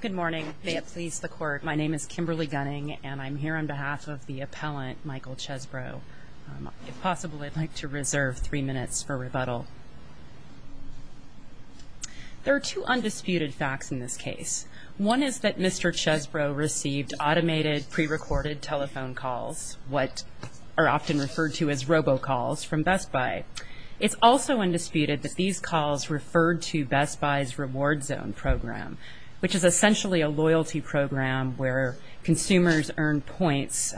Good morning. May it please the Court, my name is Kimberly Gunning and I'm here on behalf of the appellant, Michael Chesbro. If possible, I'd like to reserve three minutes for rebuttal. There are two undisputed facts in this case. One is that Mr. Chesbro received automated, pre-recorded telephone calls, what are often referred to as robocalls, from Best Buy. It's also undisputed that these is essentially a loyalty program where consumers earn points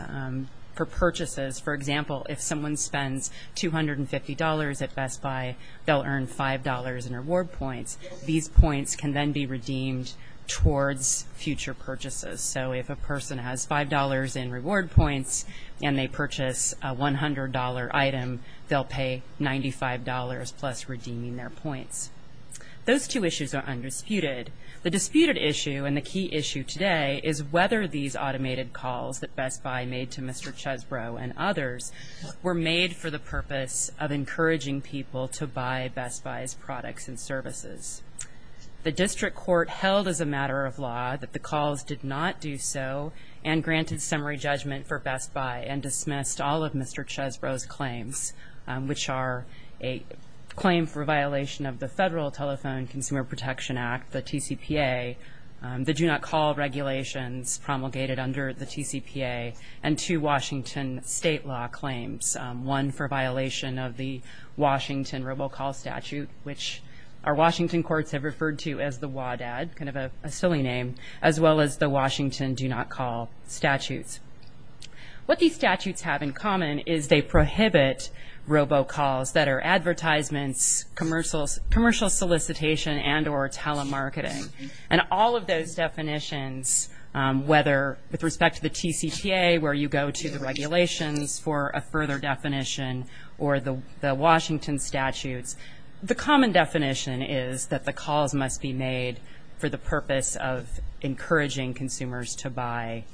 for purchases. For example, if someone spends $250 at Best Buy, they'll earn $5 in reward points. These points can then be redeemed towards future purchases. So if a person has $5 in reward points and they purchase a $100 item, they'll pay $95 plus redeeming their points. Those two issues are undisputed. The disputed issue and the key issue today is whether these automated calls that Best Buy made to Mr. Chesbro and others were made for the purpose of encouraging people to buy Best Buy's products and services. The district court held as a matter of law that the calls did not do so and granted summary judgment for Best Buy and for violation of the Federal Telephone Consumer Protection Act, the TCPA, the Do Not Call regulations promulgated under the TCPA, and two Washington state law claims. One for violation of the Washington robocall statute, which our Washington courts have referred to as the WADAD, kind of a silly name, as well as the Washington Do Not Call statutes. What these statutes have in common is they prohibit robocalls that are advertisements, commercial solicitation, and or telemarketing. And all of those definitions, whether with respect to the TCPA where you go to the regulations for a further definition or the Washington statutes, the common definition is that the calls must be made for the purpose of encouraging consumers to buy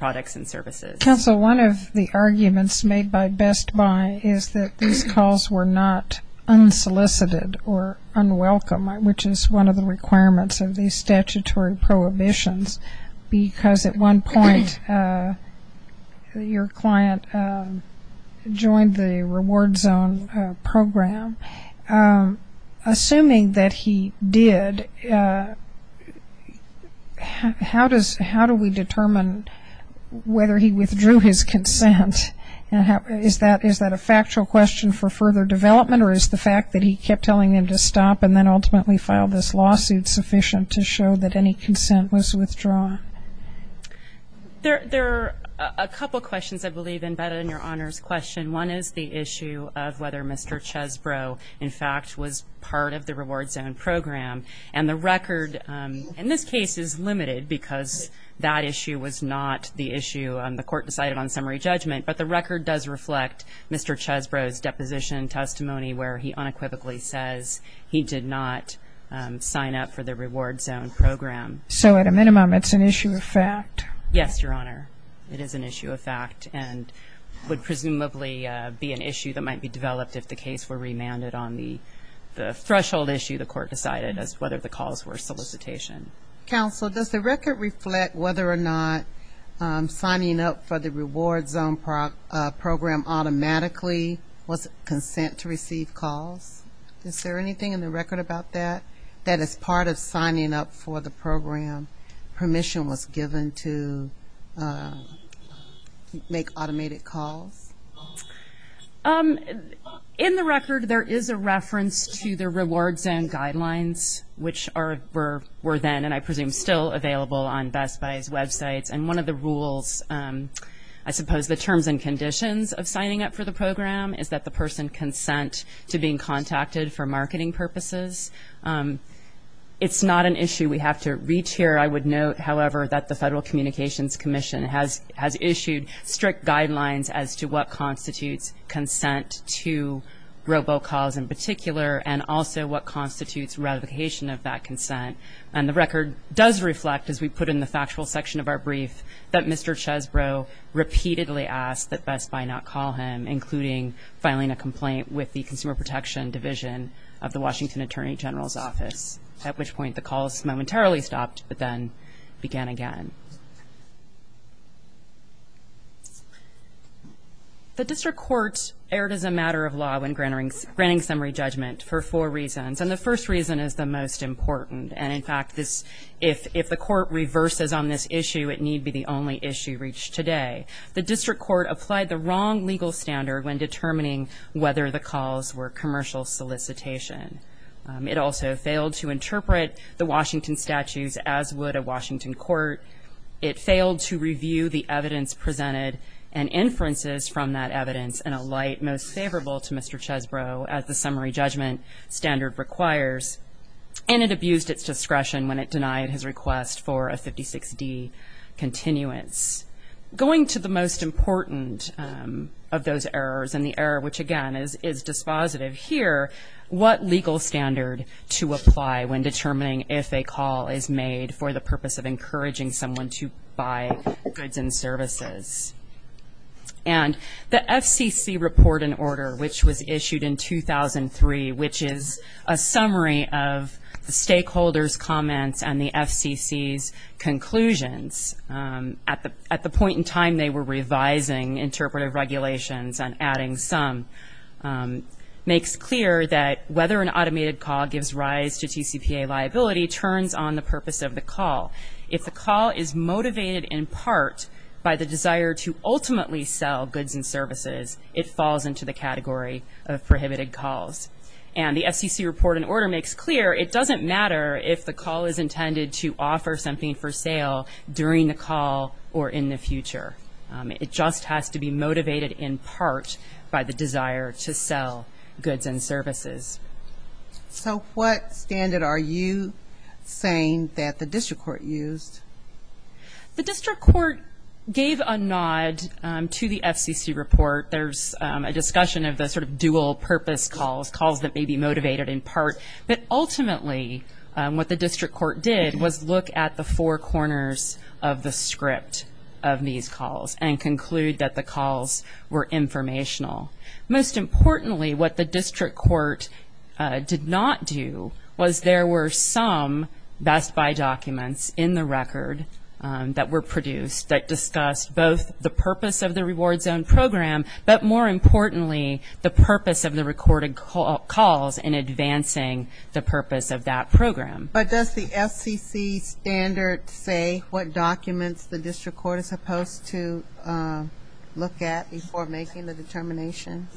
products and services. Counsel, one of the arguments made by Best Buy is that these calls were not unsolicited or unwelcome, which is one of the requirements of these statutory prohibitions, because at one point your client joined the reward zone program. Assuming that he did, how does how do we determine whether he withdrew his consent? Is that is that a factual question for further development or is the fact that he kept telling him to stop and then ultimately filed this lawsuit sufficient to show that any consent was withdrawn? There are a couple questions I believe embedded in your Honor's question. One is the issue of whether Mr. Chesbrough, in fact, was part of the reward zone program. And the record in this case is limited because that issue was not the issue the court decided on summary judgment, but the record does reflect Mr. Chesbrough's deposition testimony where he unequivocally says he did not sign up for the reward zone program. So at a minimum it's an issue of fact? Yes, Your Honor. It is an issue of fact and would presumably be an issue that might be developed if the case were remanded on the threshold issue the court decided as whether the calls were solicitation. Counsel, does the record reflect whether or not signing up for the reward zone program automatically was consent to receive calls? Is there anything in the record about that, that as part of making automated calls? In the record there is a reference to the reward zone guidelines, which were then and I presume still available on Best Buy's websites. And one of the rules, I suppose the terms and conditions of signing up for the program, is that the person consent to being contacted for marketing purposes. It's not an issue we have to reach here. I would note, however, that the Federal Communications Commission has issued strict guidelines as to what constitutes consent to robocalls in particular and also what constitutes ratification of that consent. And the record does reflect, as we put in the factual section of our brief, that Mr. Chesbrough repeatedly asked that Best Buy not call him, including filing a complaint with the Consumer Protection Division of the Washington Attorney General's office, to stop and then begin again. The District Court erred as a matter of law when granting summary judgment for four reasons. And the first reason is the most important. And, in fact, if the Court reverses on this issue, it need be the only issue reached today. The District Court applied the wrong legal standard when determining whether the calls were commercial solicitation. It also failed to interpret the evidence, as would a Washington court. It failed to review the evidence presented and inferences from that evidence in a light most favorable to Mr. Chesbrough, as the summary judgment standard requires. And it abused its discretion when it denied his request for a 56D continuance. Going to the most important of those errors, and the error which, again, is dispositive here, what legal standard to apply when determining if a call is made for the purpose of encouraging someone to buy goods and services. And the FCC report and order, which was issued in 2003, which is a summary of the stakeholders' comments and the FCC's conclusions at the point in time they were revising interpretive regulations and adding some, makes clear that whether an automated call gives rise to TCPA liability turns on the purpose of the call. If the call is motivated in part by the desire to ultimately sell goods and services, it falls into the category of prohibited calls. And the FCC report and order makes clear it doesn't matter if the call is intended to offer something for sale during the call or in the future. It just has to be motivated in part by the desire to sell goods and services. So what standard are you saying that the district court used? The district court gave a nod to the FCC report. There's a discussion of the sort of dual-purpose calls, calls that may be motivated in part. But ultimately what the district court did was look at the four corners of the script of these calls and conclude that the calls were informational. Most importantly, what the district court did not do was there were some Best Buy documents in the record that were produced that discussed both the purpose of the reward zone program, but more importantly, the purpose of the recorded calls in advancing the purpose of that program. But does the FCC standard say what documents the district court is supposed to look at before making the determination?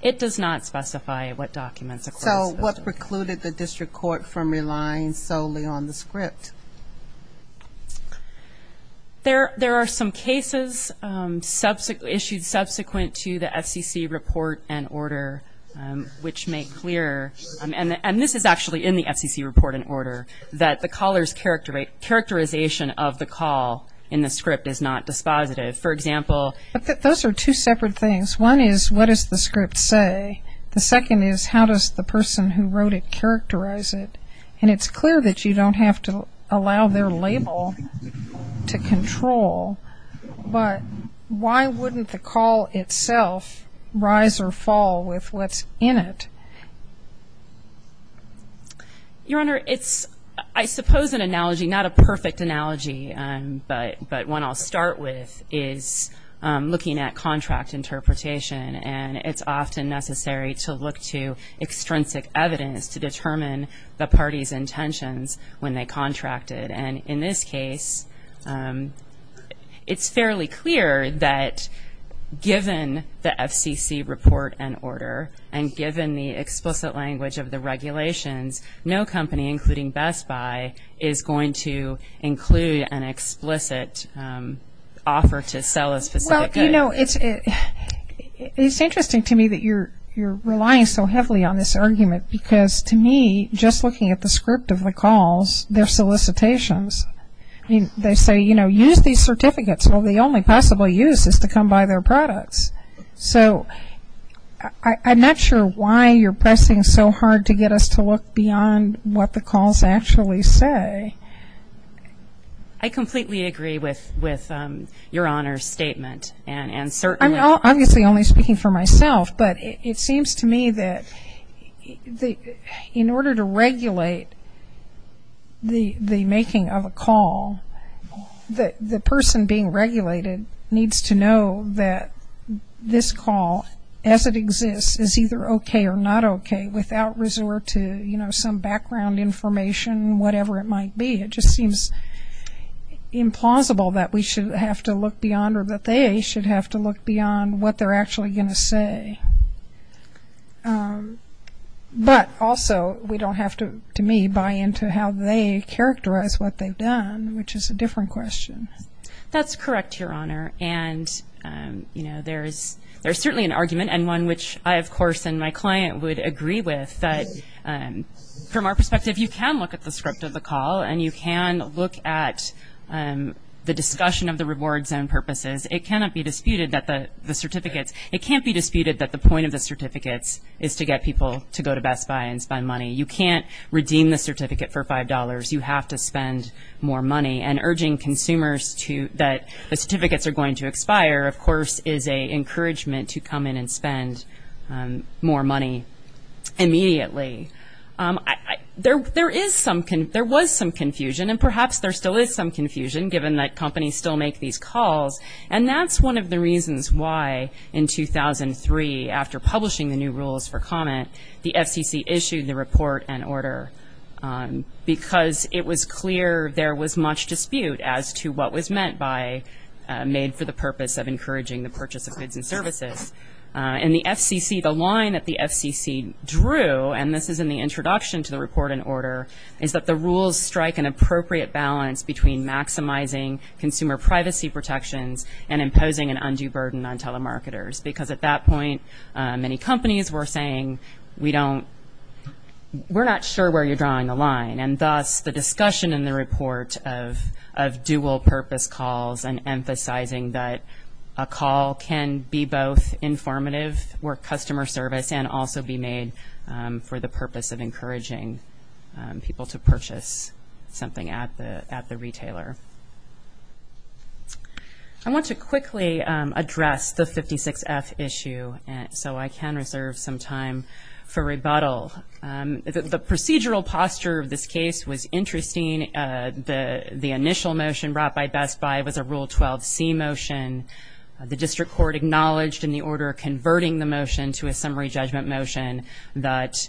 It does not specify what documents a court is supposed to look at. So what precluded the district court from relying solely on the script? There are some cases issued subsequent to the FCC report and order, which make clear, and this is actually in the FCC report and order, that the caller's characterization of the call in the script is not dispositive. For example But those are two separate things. One is what does the script say? The second is how does the person who wrote it characterize it? And it's clear that you don't have to allow their label to control, but why wouldn't the call itself rise or fall with what's in it? Your Honor, it's, I suppose, an analogy, not a perfect analogy, but one I'll start with is looking at contract interpretation, and it's often necessary to look to extrinsic evidence to determine the party's intentions when they contracted. And in this case, it's fairly clear that given the FCC report and order, and given the explicit language of the regulations, no company, including Best Buy, is going to include an explicit offer to sell a specific item. Well, you know, it's interesting to me that you're relying so heavily on this I mean, they say, you know, use these certificates. Well, the only possible use is to come by their products. So I'm not sure why you're pressing so hard to get us to look beyond what the calls actually say. I completely agree with your Honor's statement, and certainly I'm obviously only speaking for myself, but it seems to me that in order to be speaking of a call, the person being regulated needs to know that this call, as it exists, is either okay or not okay without resort to, you know, some background information, whatever it might be. It just seems implausible that we should have to look beyond or that they should have to look beyond what they're actually going to say. But also, we don't have to, to me, buy into how they characterize what they've done, which is a different question. That's correct, Your Honor, and, you know, there's certainly an argument, and one which I, of course, and my client would agree with, that from our perspective, you can look at the script of the call, and you can look at the discussion of the reward zone purposes. It cannot be disputed that the certificates It can't be disputed that the point of the certificates is to get people to go to Best Buy and spend money. You can't redeem the certificate for $5. You have to spend more money, and urging consumers that the certificates are going to expire, of course, is an encouragement to come in and spend more money immediately. There was some confusion, and perhaps there still is some confusion, given that 2003, after publishing the new rules for comment, the FCC issued the report and order, because it was clear there was much dispute as to what was meant by made for the purpose of encouraging the purchase of goods and services. And the FCC, the line that the FCC drew, and this is in the introduction to the report and order, is that the rules strike an appropriate balance between maximizing consumer privacy protections and imposing an undue burden on telemarketers. Because at that point, many companies were saying, we're not sure where you're drawing the line. And thus, the discussion in the report of dual-purpose calls and emphasizing that a call can be both informative for customer service and also be made for the consumer. I want to quickly address the 56F issue, so I can reserve some time for rebuttal. The procedural posture of this case was interesting. The initial motion brought by Best Buy was a Rule 12c motion. The district court acknowledged in the order converting the motion to a summary judgment motion that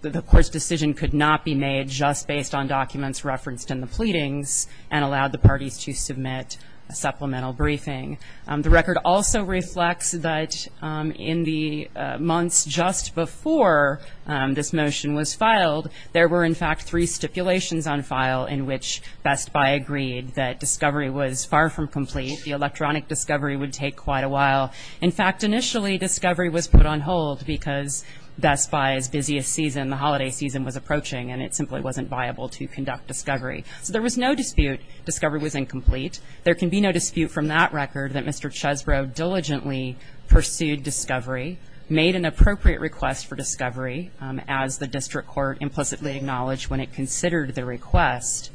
the court's decision could not be made just based on the motion and allowed the parties to submit a supplemental briefing. The record also reflects that in the months just before this motion was filed, there were, in fact, three stipulations on file in which Best Buy agreed that discovery was far from complete. The electronic discovery would take quite a while. In fact, initially, discovery was put on hold because Best Buy's busiest season, the holiday season, was approaching, and it simply wasn't viable to conduct discovery. So there was no dispute discovery was incomplete. There can be no dispute from that record that Mr. Chesbrough diligently pursued discovery, made an appropriate request for discovery, as the district court implicitly acknowledged when it considered the request.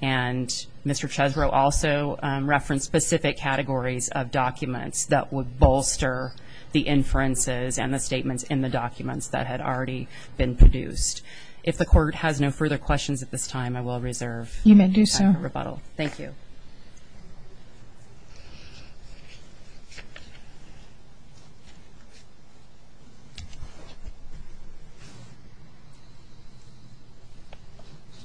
And Mr. Chesbrough also referenced specific categories of documents that would bolster the inferences and the statements in the documents that had already been produced. If the court has no further questions at this time, I will reserve time for You may do so. Thank you.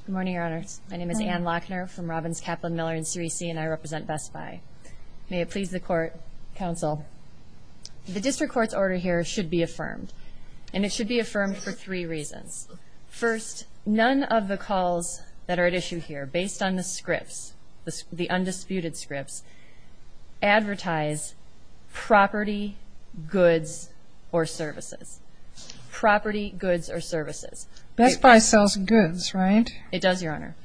Good morning, Your Honors. My name is Anne Lochner from Robbins, Kaplan, Miller, and CREC, and I represent Best Buy. May it please the court, counsel, the district court's order here should be affirmed, and it should be affirmed for three reasons. First, none of the calls that are at issue here, based on the scripts, the undisputed scripts, advertise property, goods, or services. Property, goods, or services. Best Buy sells goods, right? It does, Your Honor.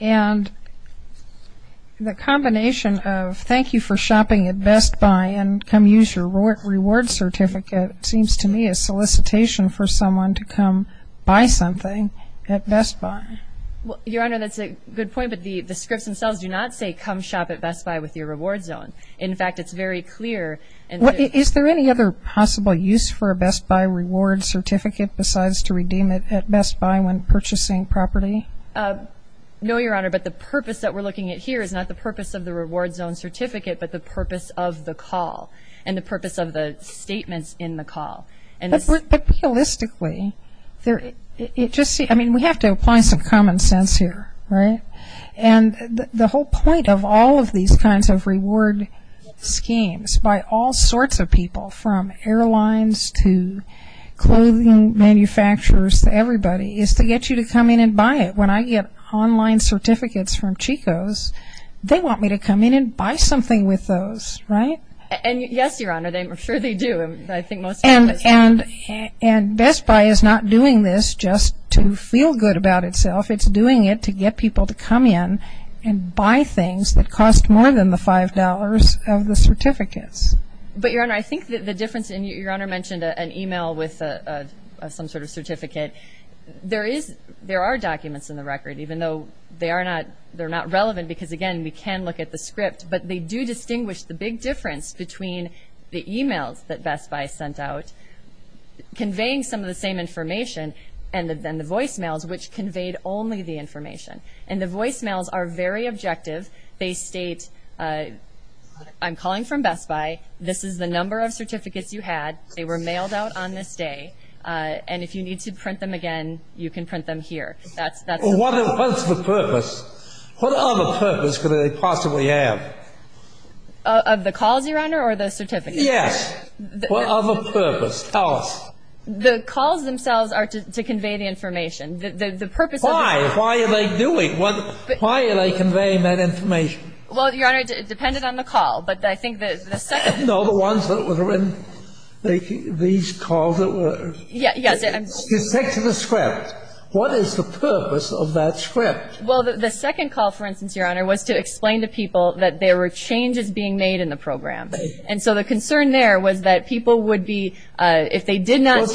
And the combination of thank you for shopping at Best Buy and come use your reward certificate seems to me a solicitation for someone to come buy something at Best Buy. Your Honor, that's a good point. But the scripts themselves do not say come shop at Best Buy with your reward zone. In fact, it's very clear. Is there any other possible use for a Best Buy reward certificate besides to redeem it at Best Buy when purchasing property? No, Your Honor. But the purpose that we're looking at here is not the purpose of the reward certificate. It's the purpose of the statements in the call. But realistically, I mean, we have to apply some common sense here, right? And the whole point of all of these kinds of reward schemes by all sorts of people, from airlines to clothing manufacturers to everybody, is to get you to come in and buy it. When I get online certificates from Chico's, they want me to come in and buy something with those, right? And yes, Your Honor. I'm sure they do. I think most of them do. And Best Buy is not doing this just to feel good about itself. It's doing it to get people to come in and buy things that cost more than the $5 of the certificates. But, Your Honor, I think the difference, and Your Honor mentioned an email with some sort of certificate. There are documents in the record, even though they're not relevant because, again, we can look at the script. But they do distinguish the big difference between the emails that Best Buy sent out, conveying some of the same information, and then the voicemails, which conveyed only the information. And the voicemails are very objective. They state, I'm calling from Best Buy. This is the number of certificates you had. They were mailed out on this day. And if you need to print them again, you can print them here. What's the purpose? What other purpose could they possibly have? Of the calls, Your Honor, or the certificates? Yes. What other purpose? Tell us. The calls themselves are to convey the information. Why? Why are they doing? Why are they conveying that information? Well, Your Honor, it depended on the call. But I think the second one. No, the ones that were in these calls that were. Yes. Dissecting the script. What is the purpose of that script? Well, the second call, for instance, Your Honor, was to explain to people that there were changes being made in the program. And so the concern there was that people would be, if they did not.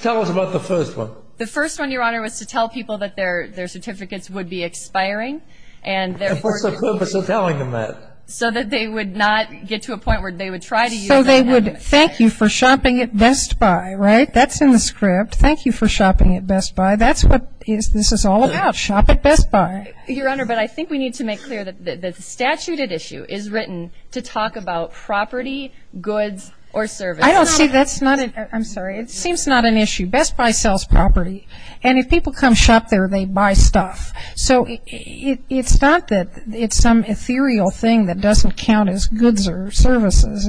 Tell us about the first one. The first one, Your Honor, was to tell people that their certificates would be expiring. And what's the purpose of telling them that? So that they would not get to a point where they would try to use that. So they would thank you for shopping at Best Buy, right? That's in the script. Thank you for shopping at Best Buy. That's what this is all about, shop at Best Buy. Your Honor, but I think we need to make clear that the statute at issue is written to talk about property, goods, or services. I don't see that's not an issue. I'm sorry. It seems not an issue. Best Buy sells property. And if people come shop there, they buy stuff. So it's not that it's some ethereal thing that doesn't count as goods or services.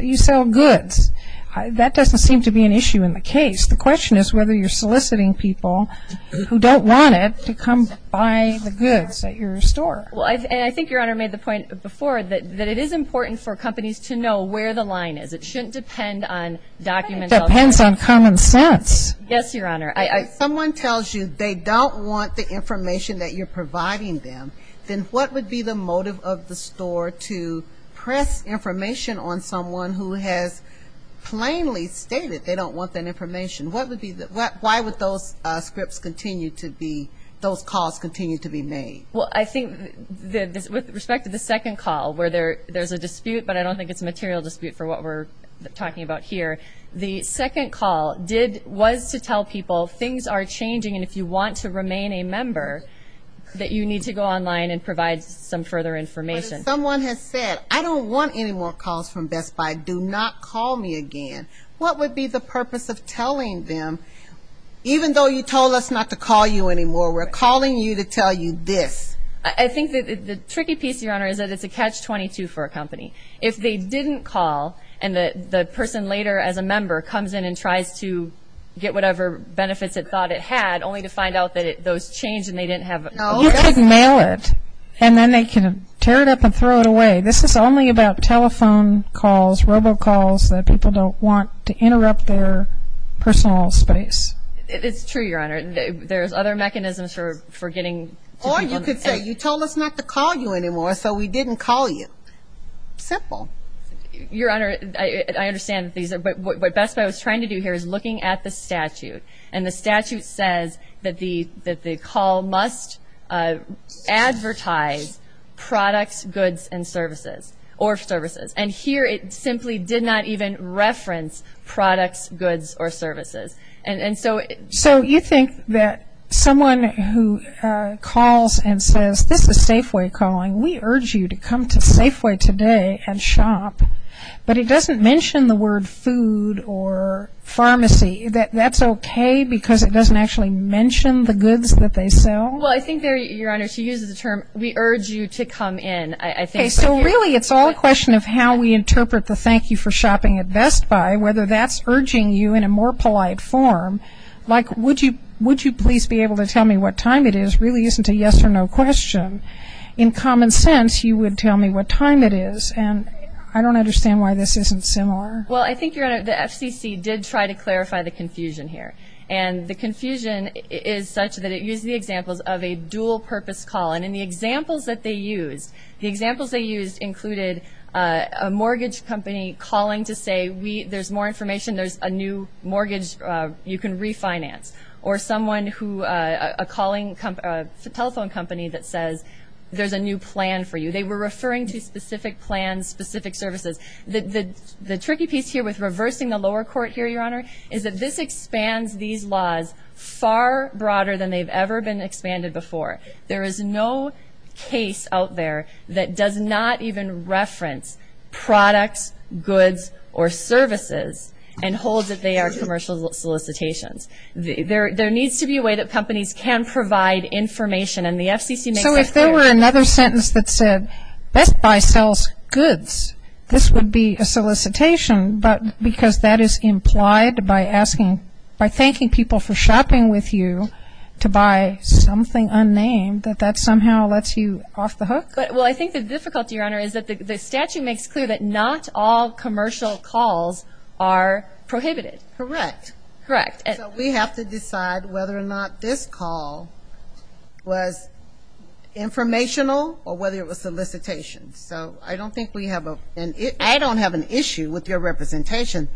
You sell goods. That doesn't seem to be an issue in the case. The question is whether you're soliciting people who don't want it to come buy the goods at your store. And I think Your Honor made the point before that it is important for companies to know where the line is. It shouldn't depend on documents. It depends on common sense. Yes, Your Honor. If someone tells you they don't want the information that you're providing them, then what would be the motive of the store to press information on someone who has plainly stated they don't want that information? Why would those calls continue to be made? Well, I think with respect to the second call where there's a dispute, but I don't think it's a material dispute for what we're talking about here, the second call was to tell people things are changing and if you want to remain a member that you need to go online and provide some further information. Someone has said, I don't want any more calls from Best Buy. Do not call me again. What would be the purpose of telling them, even though you told us not to call you anymore, we're calling you to tell you this? I think the tricky piece, Your Honor, is that it's a catch-22 for a company. If they didn't call and the person later as a member comes in and tries to get whatever benefits it thought it had, only to find out that those changed and they didn't have it. You could mail it and then they could tear it up and throw it away. This is only about telephone calls, robocalls, that people don't want to interrupt their personal space. It's true, Your Honor. There's other mechanisms for getting to people. Or you could say, you told us not to call you anymore, so we didn't call you. Simple. Your Honor, I understand, but what Best Buy was trying to do here is looking at the statute, and the statute says that the call must advertise products, goods, and services, or services. And here it simply did not even reference products, goods, or services. So you think that someone who calls and says, this is Safeway calling, we urge you to come to Safeway today and shop, but it doesn't mention the word food or pharmacy. That's okay because it doesn't actually mention the goods that they sell? Well, I think there, Your Honor, she uses the term, we urge you to come in. So really it's all a question of how we interpret the thank you for shopping at Best Buy, whether that's urging you in a more polite form, like would you please be able to tell me what time it is really isn't a yes or no question. In common sense, you would tell me what time it is. And I don't understand why this isn't similar. Well, I think, Your Honor, the FCC did try to clarify the confusion here. And the confusion is such that it used the examples of a dual-purpose call. And in the examples that they used, the examples they used included a mortgage company calling to say there's more information, there's a new mortgage you can refinance, or someone who, a telephone company that says there's a new plan for you. They were referring to specific plans, specific services. The tricky piece here with reversing the lower court here, Your Honor, is that this expands these laws far broader than they've ever been expanded before. There is no case out there that does not even reference products, goods, or services and holds that they are commercial solicitations. There needs to be a way that companies can provide information. And the FCC makes that clear. So if there were another sentence that said Best Buy sells goods, this would be a solicitation, because that is implied by thanking people for shopping with you to buy something unnamed, that that somehow lets you off the hook? Well, I think the difficulty, Your Honor, is that the statute makes clear that not all commercial calls are prohibited. Correct. Correct. So we have to decide whether or not this call was informational or whether it was solicitation. So I don't think we have an issue. I don't have an issue with your representation.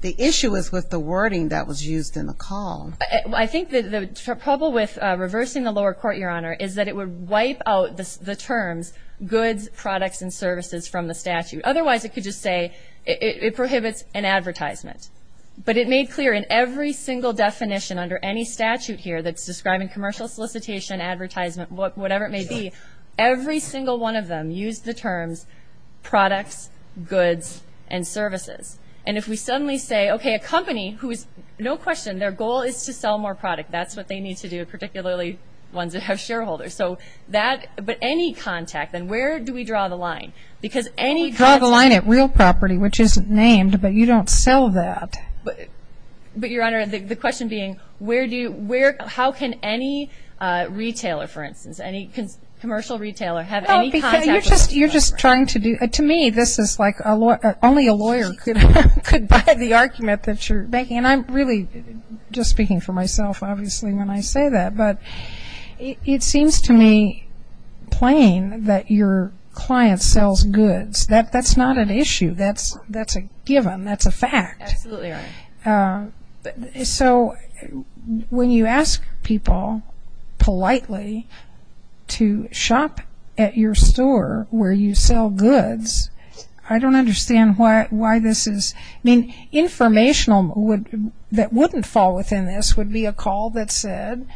The issue is with the wording that was used in the call. I think the trouble with reversing the lower court, Your Honor, is that it would wipe out the terms goods, products, and services from the statute. Otherwise, it could just say it prohibits an advertisement. But it made clear in every single definition under any statute here that's describing commercial solicitation, advertisement, whatever it may be, every single one of them used the terms products, goods, and services. And if we suddenly say, okay, a company who is, no question, their goal is to sell more product, that's what they need to do, particularly ones that have shareholders. But any contact, then where do we draw the line? We draw the line at real property, which isn't named, but you don't sell that. But, Your Honor, the question being, how can any retailer, for instance, any commercial retailer have any contact with a real property? To me, this is like only a lawyer could buy the argument that you're making. And I'm really just speaking for myself, obviously, when I say that. But it seems to me plain that your client sells goods. That's not an issue. That's a given. That's a fact. Absolutely right. So when you ask people politely to shop at your store where you sell goods, I don't understand why this is. I mean, informational that wouldn't fall within this would be a call that said,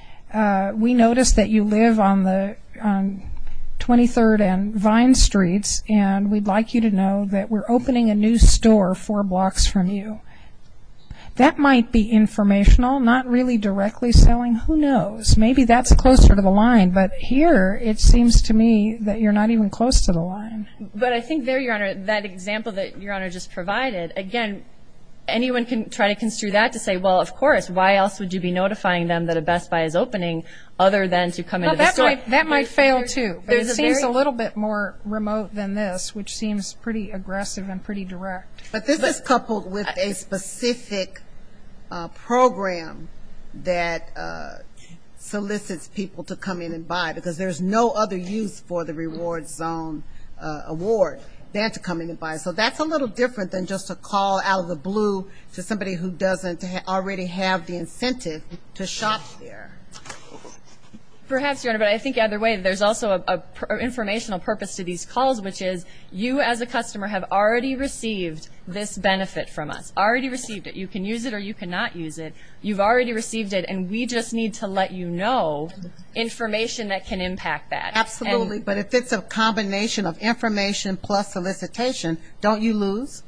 we noticed that you live on 23rd and Vine Streets, and we'd like you to know that we're opening a new store four blocks from you. That might be informational, not really directly selling. Who knows? Maybe that's closer to the line. But here, it seems to me that you're not even close to the line. But I think there, Your Honor, that example that Your Honor just provided, again, anyone can try to construe that to say, well, of course, why else would you be notifying them that a Best Buy is opening other than to come into the store? That might fail, too. But it seems a little bit more remote than this, which seems pretty aggressive and pretty direct. But this is coupled with a specific program that solicits people to come in and buy, because there's no other use for the Rewards Zone award than to come in and buy. So that's a little different than just a call out of the blue to somebody who doesn't already have the incentive to shop there. Perhaps, Your Honor, but I think either way, there's also an informational purpose to these calls, which is you as a customer have already received this benefit from us, already received it. You can use it or you cannot use it. You've already received it, and we just need to let you know information that can impact that. Absolutely. But if it's a combination of information plus solicitation, don't you lose?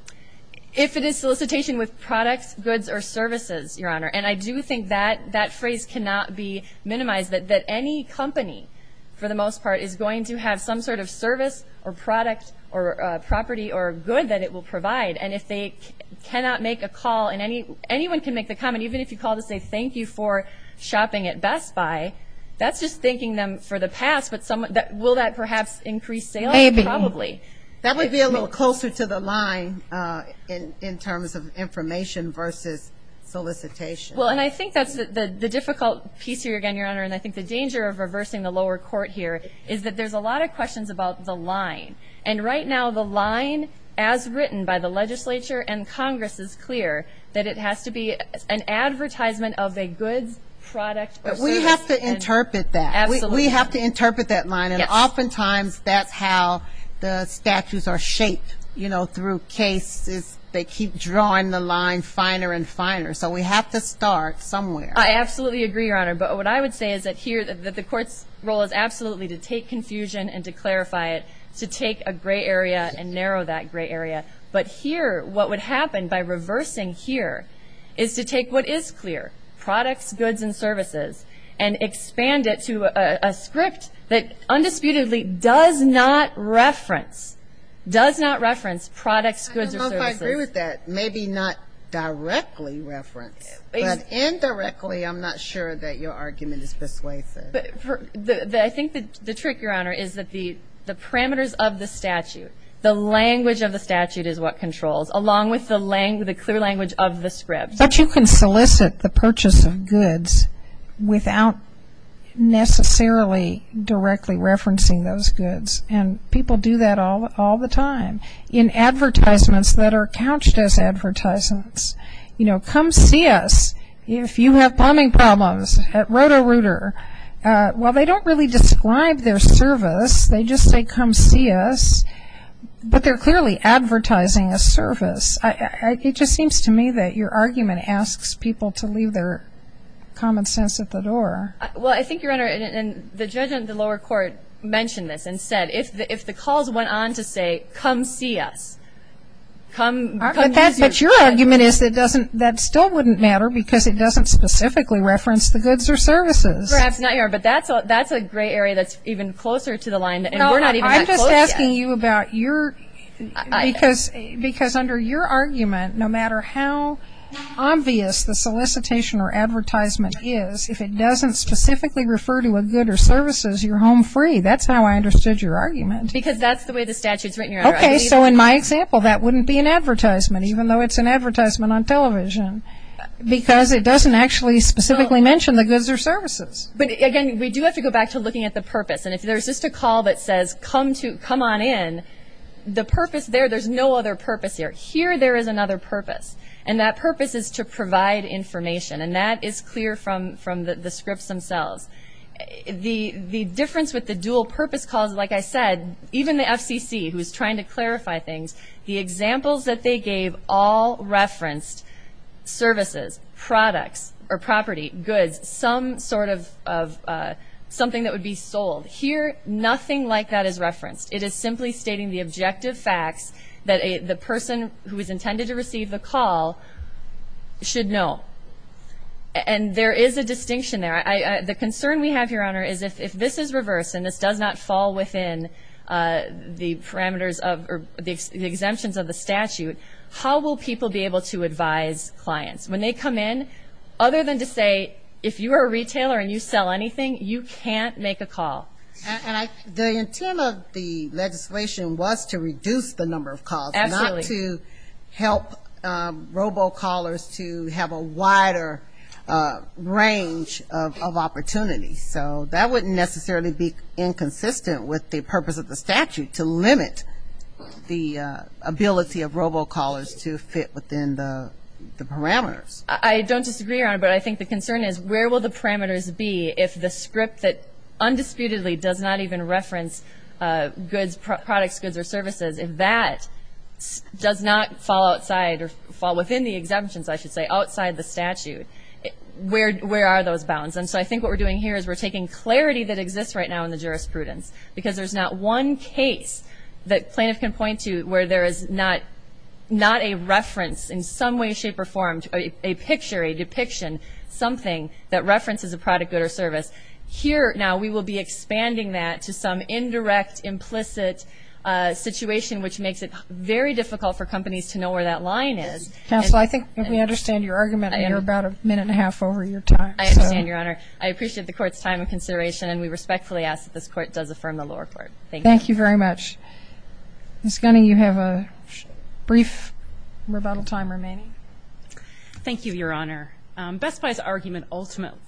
If it is solicitation with products, goods, or services, Your Honor, and I do think that that phrase cannot be minimized, that any company for the most part is going to have some sort of service or product or property or good that it will provide. And if they cannot make a call, and anyone can make the comment, even if you call to say thank you for shopping at Best Buy, that's just thanking them for the past, but will that perhaps increase sales? Maybe. Probably. That would be a little closer to the line in terms of information versus solicitation. Well, and I think that's the difficult piece here again, Your Honor, and I think the danger of reversing the lower court here is that there's a lot of questions about the line. And right now the line, as written by the legislature and Congress, we have to interpret that. Absolutely. We have to interpret that line. And oftentimes that's how the statutes are shaped, you know, through cases. They keep drawing the line finer and finer. So we have to start somewhere. I absolutely agree, Your Honor. But what I would say is that the court's role is absolutely to take confusion and to clarify it, to take a gray area and narrow that gray area. But here what would happen by reversing here is to take what is clear, products, goods, and services, and expand it to a script that undisputedly does not reference, does not reference products, goods, or services. I don't know if I agree with that. Maybe not directly reference, but indirectly I'm not sure that your argument is persuasive. I think the trick, Your Honor, is that the parameters of the statute, the language of the statute is what controls, along with the clear language of the script. But you can solicit the purchase of goods without necessarily directly referencing those goods. And people do that all the time in advertisements that are couched as advertisements. You know, come see us if you have plumbing problems at Roto-Rooter. While they don't really describe their service, they just say come see us. But they're clearly advertising a service. It just seems to me that your argument asks people to leave their common sense at the door. Well, I think, Your Honor, the judge in the lower court mentioned this and said if the calls went on to say come see us, come use your script. But your argument is that still wouldn't matter because it doesn't specifically reference the goods or services. Perhaps not, Your Honor, but that's a gray area that's even closer to the line. No, I'm just asking you about your, because under your argument, no matter how obvious the solicitation or advertisement is, if it doesn't specifically refer to a good or services, you're home free. That's how I understood your argument. Because that's the way the statute's written, Your Honor. Okay, so in my example, that wouldn't be an advertisement, even though it's an advertisement on television, because it doesn't actually specifically mention the goods or services. But, again, we do have to go back to looking at the purpose. And if there's just a call that says come on in, the purpose there, there's no other purpose here. Here there is another purpose, and that purpose is to provide information, and that is clear from the scripts themselves. The difference with the dual-purpose calls, like I said, even the FCC, who is trying to clarify things, the examples that they gave all referenced services, products, or property, goods, some sort of something that would be sold. Here nothing like that is referenced. It is simply stating the objective facts that the person who is intended to receive the call should know. And there is a distinction there. The concern we have here, Your Honor, is if this is reversed and this does not fall within the exemptions of the statute, how will people be able to advise clients? When they come in, other than to say if you are a retailer and you sell anything, you can't make a call. And the intent of the legislation was to reduce the number of calls, not to help robocallers to have a wider range of opportunities. So that wouldn't necessarily be inconsistent with the purpose of the statute, to limit the ability of robocallers to fit within the parameters. I don't disagree, Your Honor, but I think the concern is where will the parameters be if the script that undisputedly does not even reference goods, products, goods, or services, if that does not fall outside or fall within the exemptions, I should say, outside the statute, where are those bounds? And so I think what we're doing here is we're taking clarity that exists right now in the jurisprudence because there's not one case that plaintiff can point to where there is not a reference in some way, shape, or form, a picture, a depiction, something that references a product, good, or service. Here now we will be expanding that to some indirect, implicit situation, which makes it very difficult for companies to know where that line is. Counsel, I think we understand your argument. You're about a minute and a half over your time. I understand, Your Honor. I appreciate the Court's time and consideration, and we respectfully ask that this Court does affirm the lower court. Thank you. Thank you very much. Ms. Gunny, you have a brief rebuttal time remaining. Thank you, Your Honor. Best Buy's argument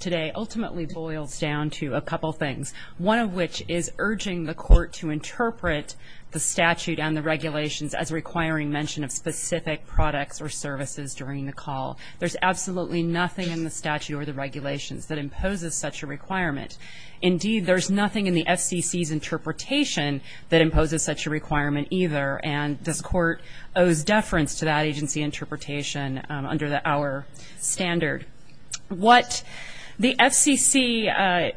today ultimately boils down to a couple things, one of which is urging the Court to interpret the statute and the regulations as requiring mention of specific products or services during the call. There's absolutely nothing in the statute or the regulations that imposes such a requirement. Indeed, there's nothing in the FCC's interpretation that imposes such a requirement either, and this Court owes deference to that agency interpretation under our standard. What the FCC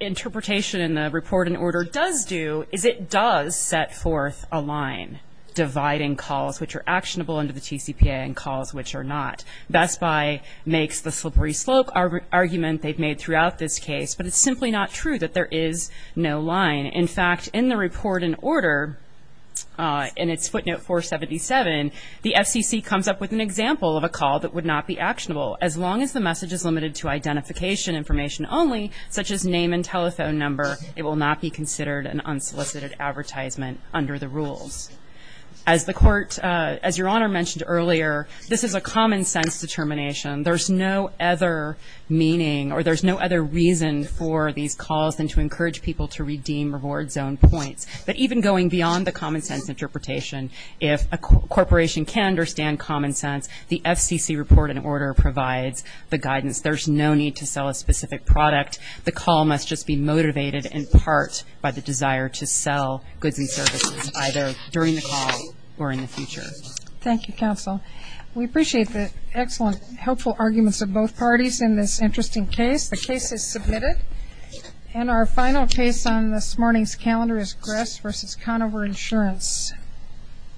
interpretation in the report and order does do is it does set forth a line dividing calls which are actionable under the TCPA and calls which are not. Best Buy makes the slippery slope argument they've made throughout this case, but it's simply not true that there is no line. In fact, in the report and order, in its footnote 477, the FCC comes up with an example of a call that would not be actionable. As long as the message is limited to identification information only, such as name and telephone number, it will not be considered an unsolicited advertisement under the rules. As the Court, as Your Honor mentioned earlier, this is a common sense determination. There's no other meaning or there's no other reason for these calls than to encourage people to redeem reward zone points. But even going beyond the common sense interpretation, if a corporation can understand common sense, the FCC report and order provides the guidance. There's no need to sell a specific product. The call must just be motivated in part by the desire to sell goods and services either during the call or in the future. Thank you, Counsel. We appreciate the excellent, helpful arguments of both parties in this interesting case. The case is submitted. And our final case on this morning's calendar is Gress v. Conover Insurance.